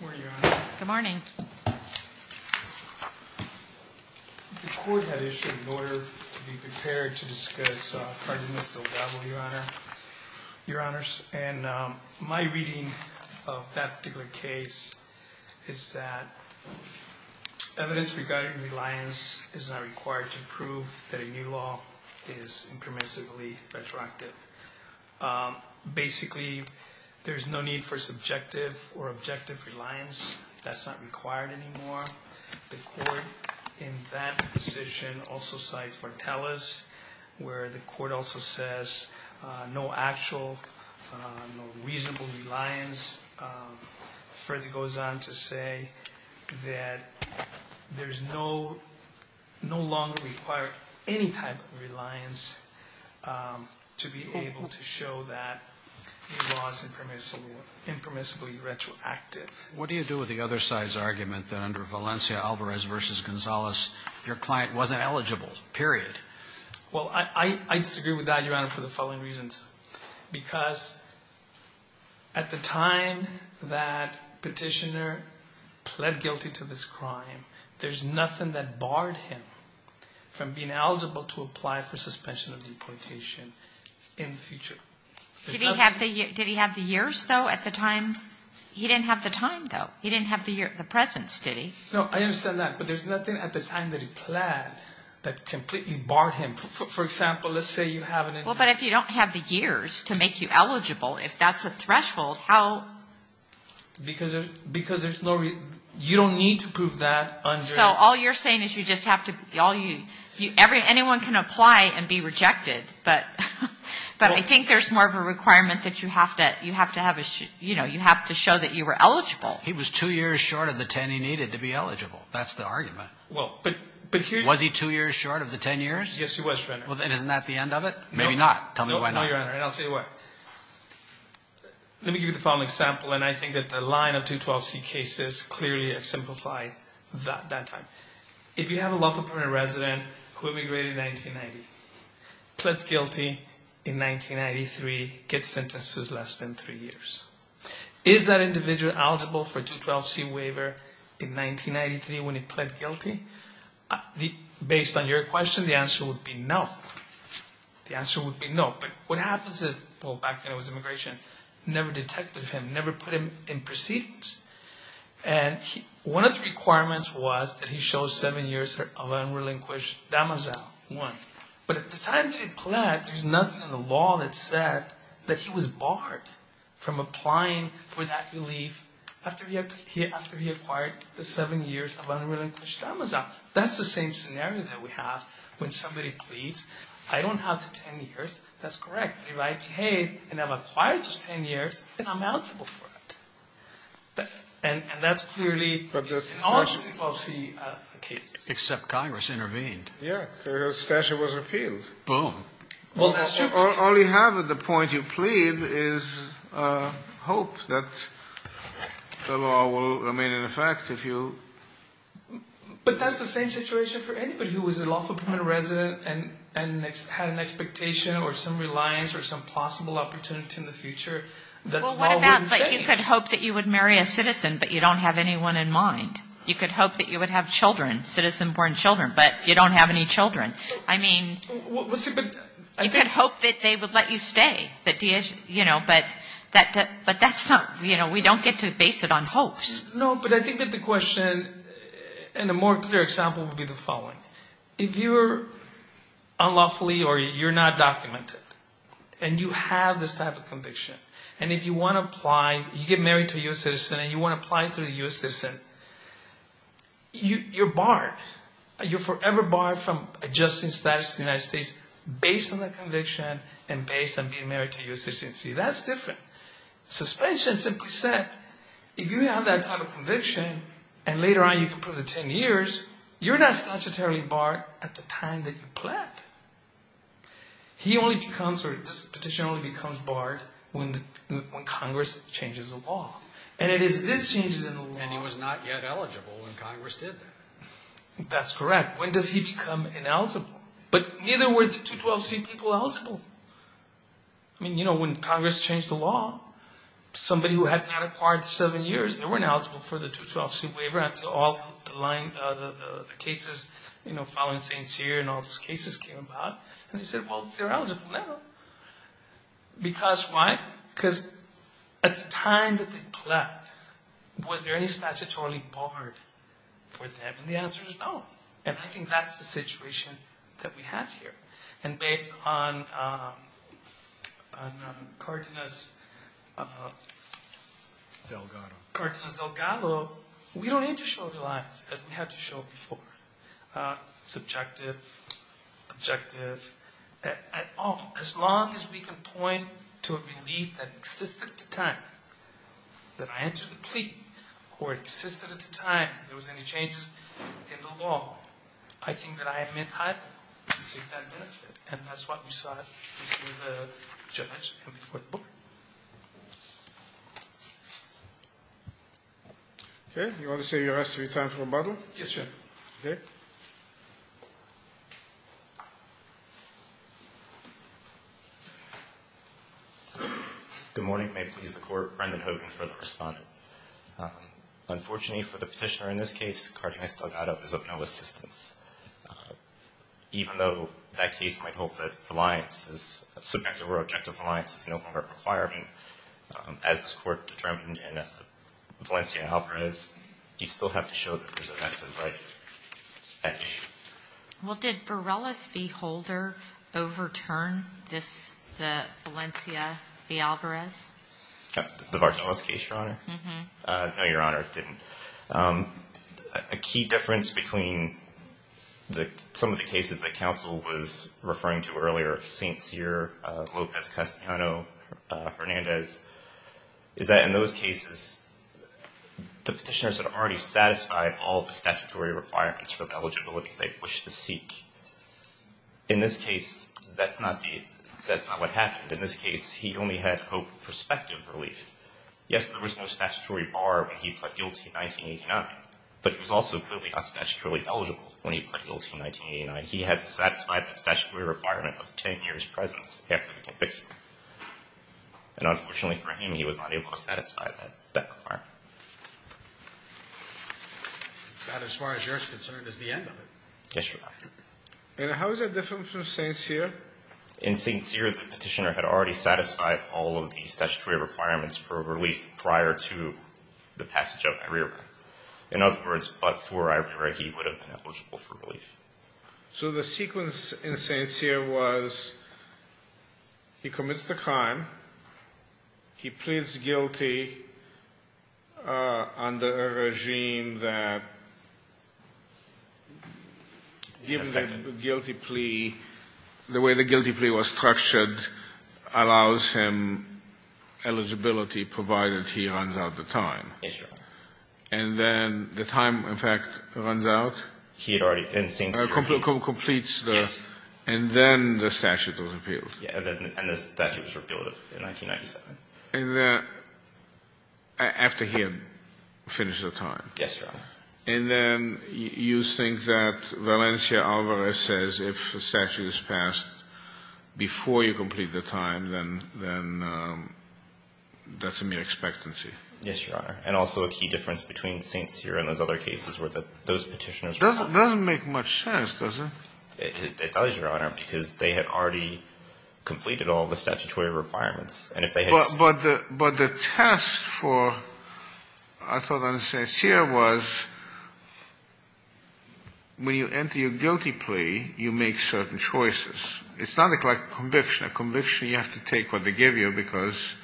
Good morning, Your Honor. Good morning. The court had issued an order to be prepared to discuss Cardinal Nistelgado, Your Honor. And my reading of that particular case is that evidence regarding reliance is not required to prove that a new law is impermissibly retroactive. Basically, there's no need for subjective or objective reliance. That's not required anymore. The court in that position also cites Vartelis, where the court also says no actual, no reasonable reliance. Further goes on to say that there's no longer required any type of reliance to be able to show that a law is impermissibly retroactive. What do you do with the other side's argument that under Valencia Alvarez v. Gonzalez, your client wasn't eligible, period? Well, I disagree with that, Your Honor, for the following reasons. Because at the time that petitioner pled guilty to this crime, there's nothing that barred him from being eligible to apply for suspension of deportation in the future. Did he have the years, though, at the time? He didn't have the time, though. He didn't have the presence, did he? No, I understand that. But there's nothing at the time that he pled that completely barred him. Well, for example, let's say you haven't. Well, but if you don't have the years to make you eligible, if that's a threshold, how? Because there's no reason. You don't need to prove that under. So all you're saying is you just have to be all you anyone can apply and be rejected. But I think there's more of a requirement that you have to have a, you know, you have to show that you were eligible. He was 2 years short of the 10 he needed to be eligible. That's the argument. Well, but here's. Was he 2 years short of the 10 years? Yes, he was, Your Honor. Well, then isn't that the end of it? No. Maybe not. Tell me why not. No, Your Honor, and I'll tell you why. Let me give you the following example, and I think that the line of 212C cases clearly have simplified that time. If you have a lawful permanent resident who immigrated in 1990, pleds guilty in 1993, gets sentences less than 3 years. Is that individual eligible for a 212C waiver in 1993 when he pled guilty? Based on your question, the answer would be no. The answer would be no. But what happens is, well, back when it was immigration, never detected him, never put him in proceedings. And one of the requirements was that he show 7 years of unrelinquished damazao, 1. But at the time that he pled, there's nothing in the law that said that he was barred from applying for that relief after he acquired the 7 years of unrelinquished damazao. That's the same scenario that we have when somebody pleads. I don't have the 10 years. That's correct. If I behave and have acquired those 10 years, then I'm eligible for it. And that's clearly in all the 212C cases. Except Congress intervened. Yeah. The statute was repealed. Boom. Well, that's true. All you have at the point you plead is hope that the law will remain in effect if you But that's the same situation for anybody who was a lawful permanent resident and had an expectation or some reliance or some possible opportunity in the future. Well, what about, like, you could hope that you would marry a citizen, but you don't have anyone in mind. You could hope that you would have children, citizen-born children, but you don't have any children. I mean, you could hope that they would let you stay, you know, but that's not, you know, we don't get to base it on hopes. No, but I think that the question and a more clear example would be the following. If you're unlawfully or you're not documented and you have this type of conviction, and if you want to apply, you get married to a U.S. citizen and you want to apply to a U.S. citizen, you're barred. You're forever barred from adjusting status to the United States based on that conviction and based on being married to a U.S. citizen. See, that's different. Suspension simply said, if you have that type of conviction and later on you can prove to 10 years, you're not statutorily barred at the time that you planned. He only becomes, or this petition only becomes barred when Congress changes the law. And it is these changes in the law. And he was not yet eligible when Congress did that. That's correct. When does he become ineligible? But neither were the 212c people eligible. I mean, you know, when Congress changed the law, somebody who had not acquired the 7 years, they weren't eligible for the 212c waiver until all the cases, you know, following St. Cyr and all those cases came about. And they said, well, they're eligible now. Because why? Because at the time that they planned, was there any statutorily barred for them? And the answer is no. And I think that's the situation that we have here. And based on Cardenas' Delgado, we don't need to show the lines as we had to show before. Subjective, objective. As long as we can point to a belief that existed at the time that I entered the plea or existed at the time there was any changes in the law, I think that I am entitled. And that's what we saw before the judge and before the court. Okay. You want to say your last three times from the bottom? Yes, sir. Okay. Good morning. May it please the Court. Brendan Hogan, further respondent. Unfortunately for the petitioner in this case, Cardenas' Delgado is of no assistance. Even though that case might hope that subjective or objective reliance is no longer a requirement, as this Court determined in Valencia v. Alvarez, you still have to show that there's a vested right at issue. Well, did Varelis v. Holder overturn the Valencia v. Alvarez? The Varelis case, Your Honor? Mm-hmm. No, Your Honor, it didn't. A key difference between some of the cases that counsel was referring to earlier, St. Cyr, Lopez-Castellano, Hernandez, is that in those cases the petitioners had already satisfied all the statutory requirements for the eligibility they wished to seek. In this case, that's not what happened. In this case, he only had hope of prospective relief. Yes, there was no statutory bar when he pled guilty in 1989, but he was also clearly not statutorily eligible when he pled guilty in 1989. He had satisfied that statutory requirement of 10 years' presence after the conviction. And unfortunately for him, he was not able to satisfy that requirement. That, as far as you're concerned, is the end of it. Yes, Your Honor. And how is that different from St. Cyr? In St. Cyr, the petitioner had already satisfied all of the statutory requirements for relief prior to the passage of IRERA. In other words, but for IRERA, he would have been eligible for relief. So the sequence in St. Cyr was he commits the crime, he pleads guilty under a regime that, given the guilty plea, the way the guilty plea was structured allows him eligibility, provided he runs out of time. Yes, Your Honor. And then the time, in fact, runs out. He had already, in St. Cyr. Completes the. Yes. And then the statute was repealed. Yes, and the statute was repealed in 1997. And after he had finished the time. Yes, Your Honor. And then you think that Valencia Alvarez says if a statute is passed before you complete the time, then that's a mere expectancy. Yes, Your Honor. And also a key difference between St. Cyr and those other cases were that those petitioners. Doesn't make much sense, does it? It does, Your Honor, because they had already completed all the statutory requirements. But the test for, I thought, under St. Cyr was when you enter your guilty plea, you make certain choices. It's not like a conviction. A conviction, you have to take what they give you because,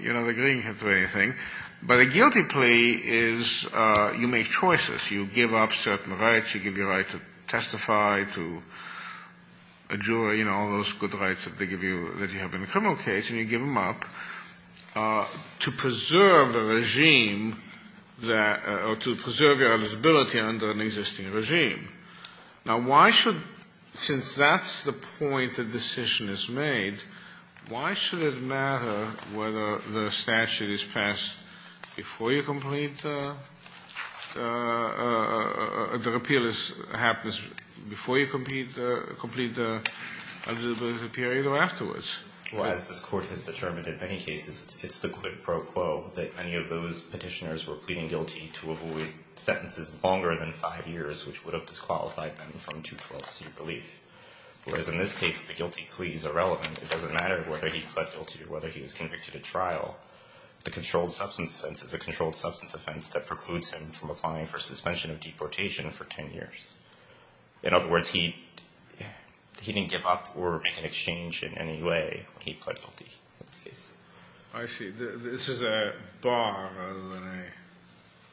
you know, the green can't do anything. But a guilty plea is you make choices. You give up certain rights. You give your right to testify, to a jury, you know, all those good rights that they give you that you have in a criminal case. And you give them up to preserve the regime or to preserve your eligibility under an existing regime. Now, why should, since that's the point the decision is made, why should it matter whether the statute is passed before you complete the repeal is happened before you complete the eligibility period or afterwards? Well, as this Court has determined in many cases, it's the quid pro quo that any of those petitioners were pleading guilty to sentences longer than five years, which would have disqualified them from 212C relief. Whereas in this case, the guilty plea is irrelevant. It doesn't matter whether he pled guilty or whether he was convicted at trial. The controlled substance offense is a controlled substance offense that precludes him from applying for suspension of deportation for 10 years. In other words, he didn't give up or make an exchange in any way when he pled guilty in this case. I see. This is a bar rather than a.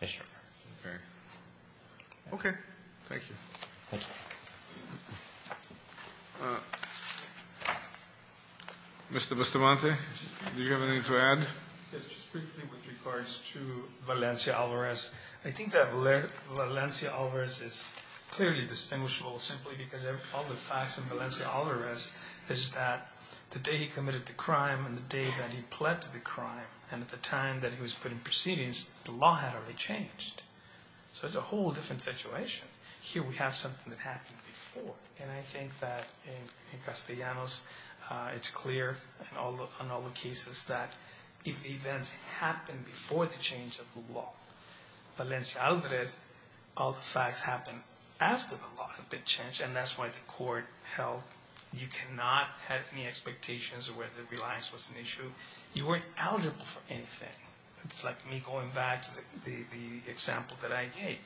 Yes, sir. Okay. Okay. Thank you. Thank you. Mr. Bustamante, do you have anything to add? Yes, just briefly with regards to Valencia Alvarez. I think that Valencia Alvarez is clearly distinguishable simply because all the facts in Valencia Alvarez is that the day he committed the crime and the day that he pled to the crime, and at the time that he was put in proceedings, the law had already changed. So it's a whole different situation. Here we have something that happened before, and I think that in Castellanos, it's clear in all the cases that if the events happened before the change of the law, Valencia Alvarez, all the facts happened after the law had been changed, and that's why the court held you cannot have any expectations of whether reliance was an issue. You weren't eligible for anything. It's like me going back to the example that I gave.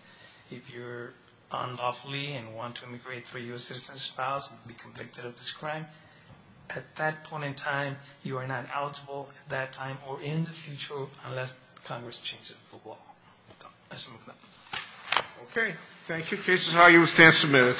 If you're unlawfully and want to immigrate through a U.S. citizen's spouse and be convicted of this crime, at that point in time, you are not eligible at that time or in the future unless Congress changes the law. So let's move on. Okay. Thank you. The case is now U.S. 10 submitted.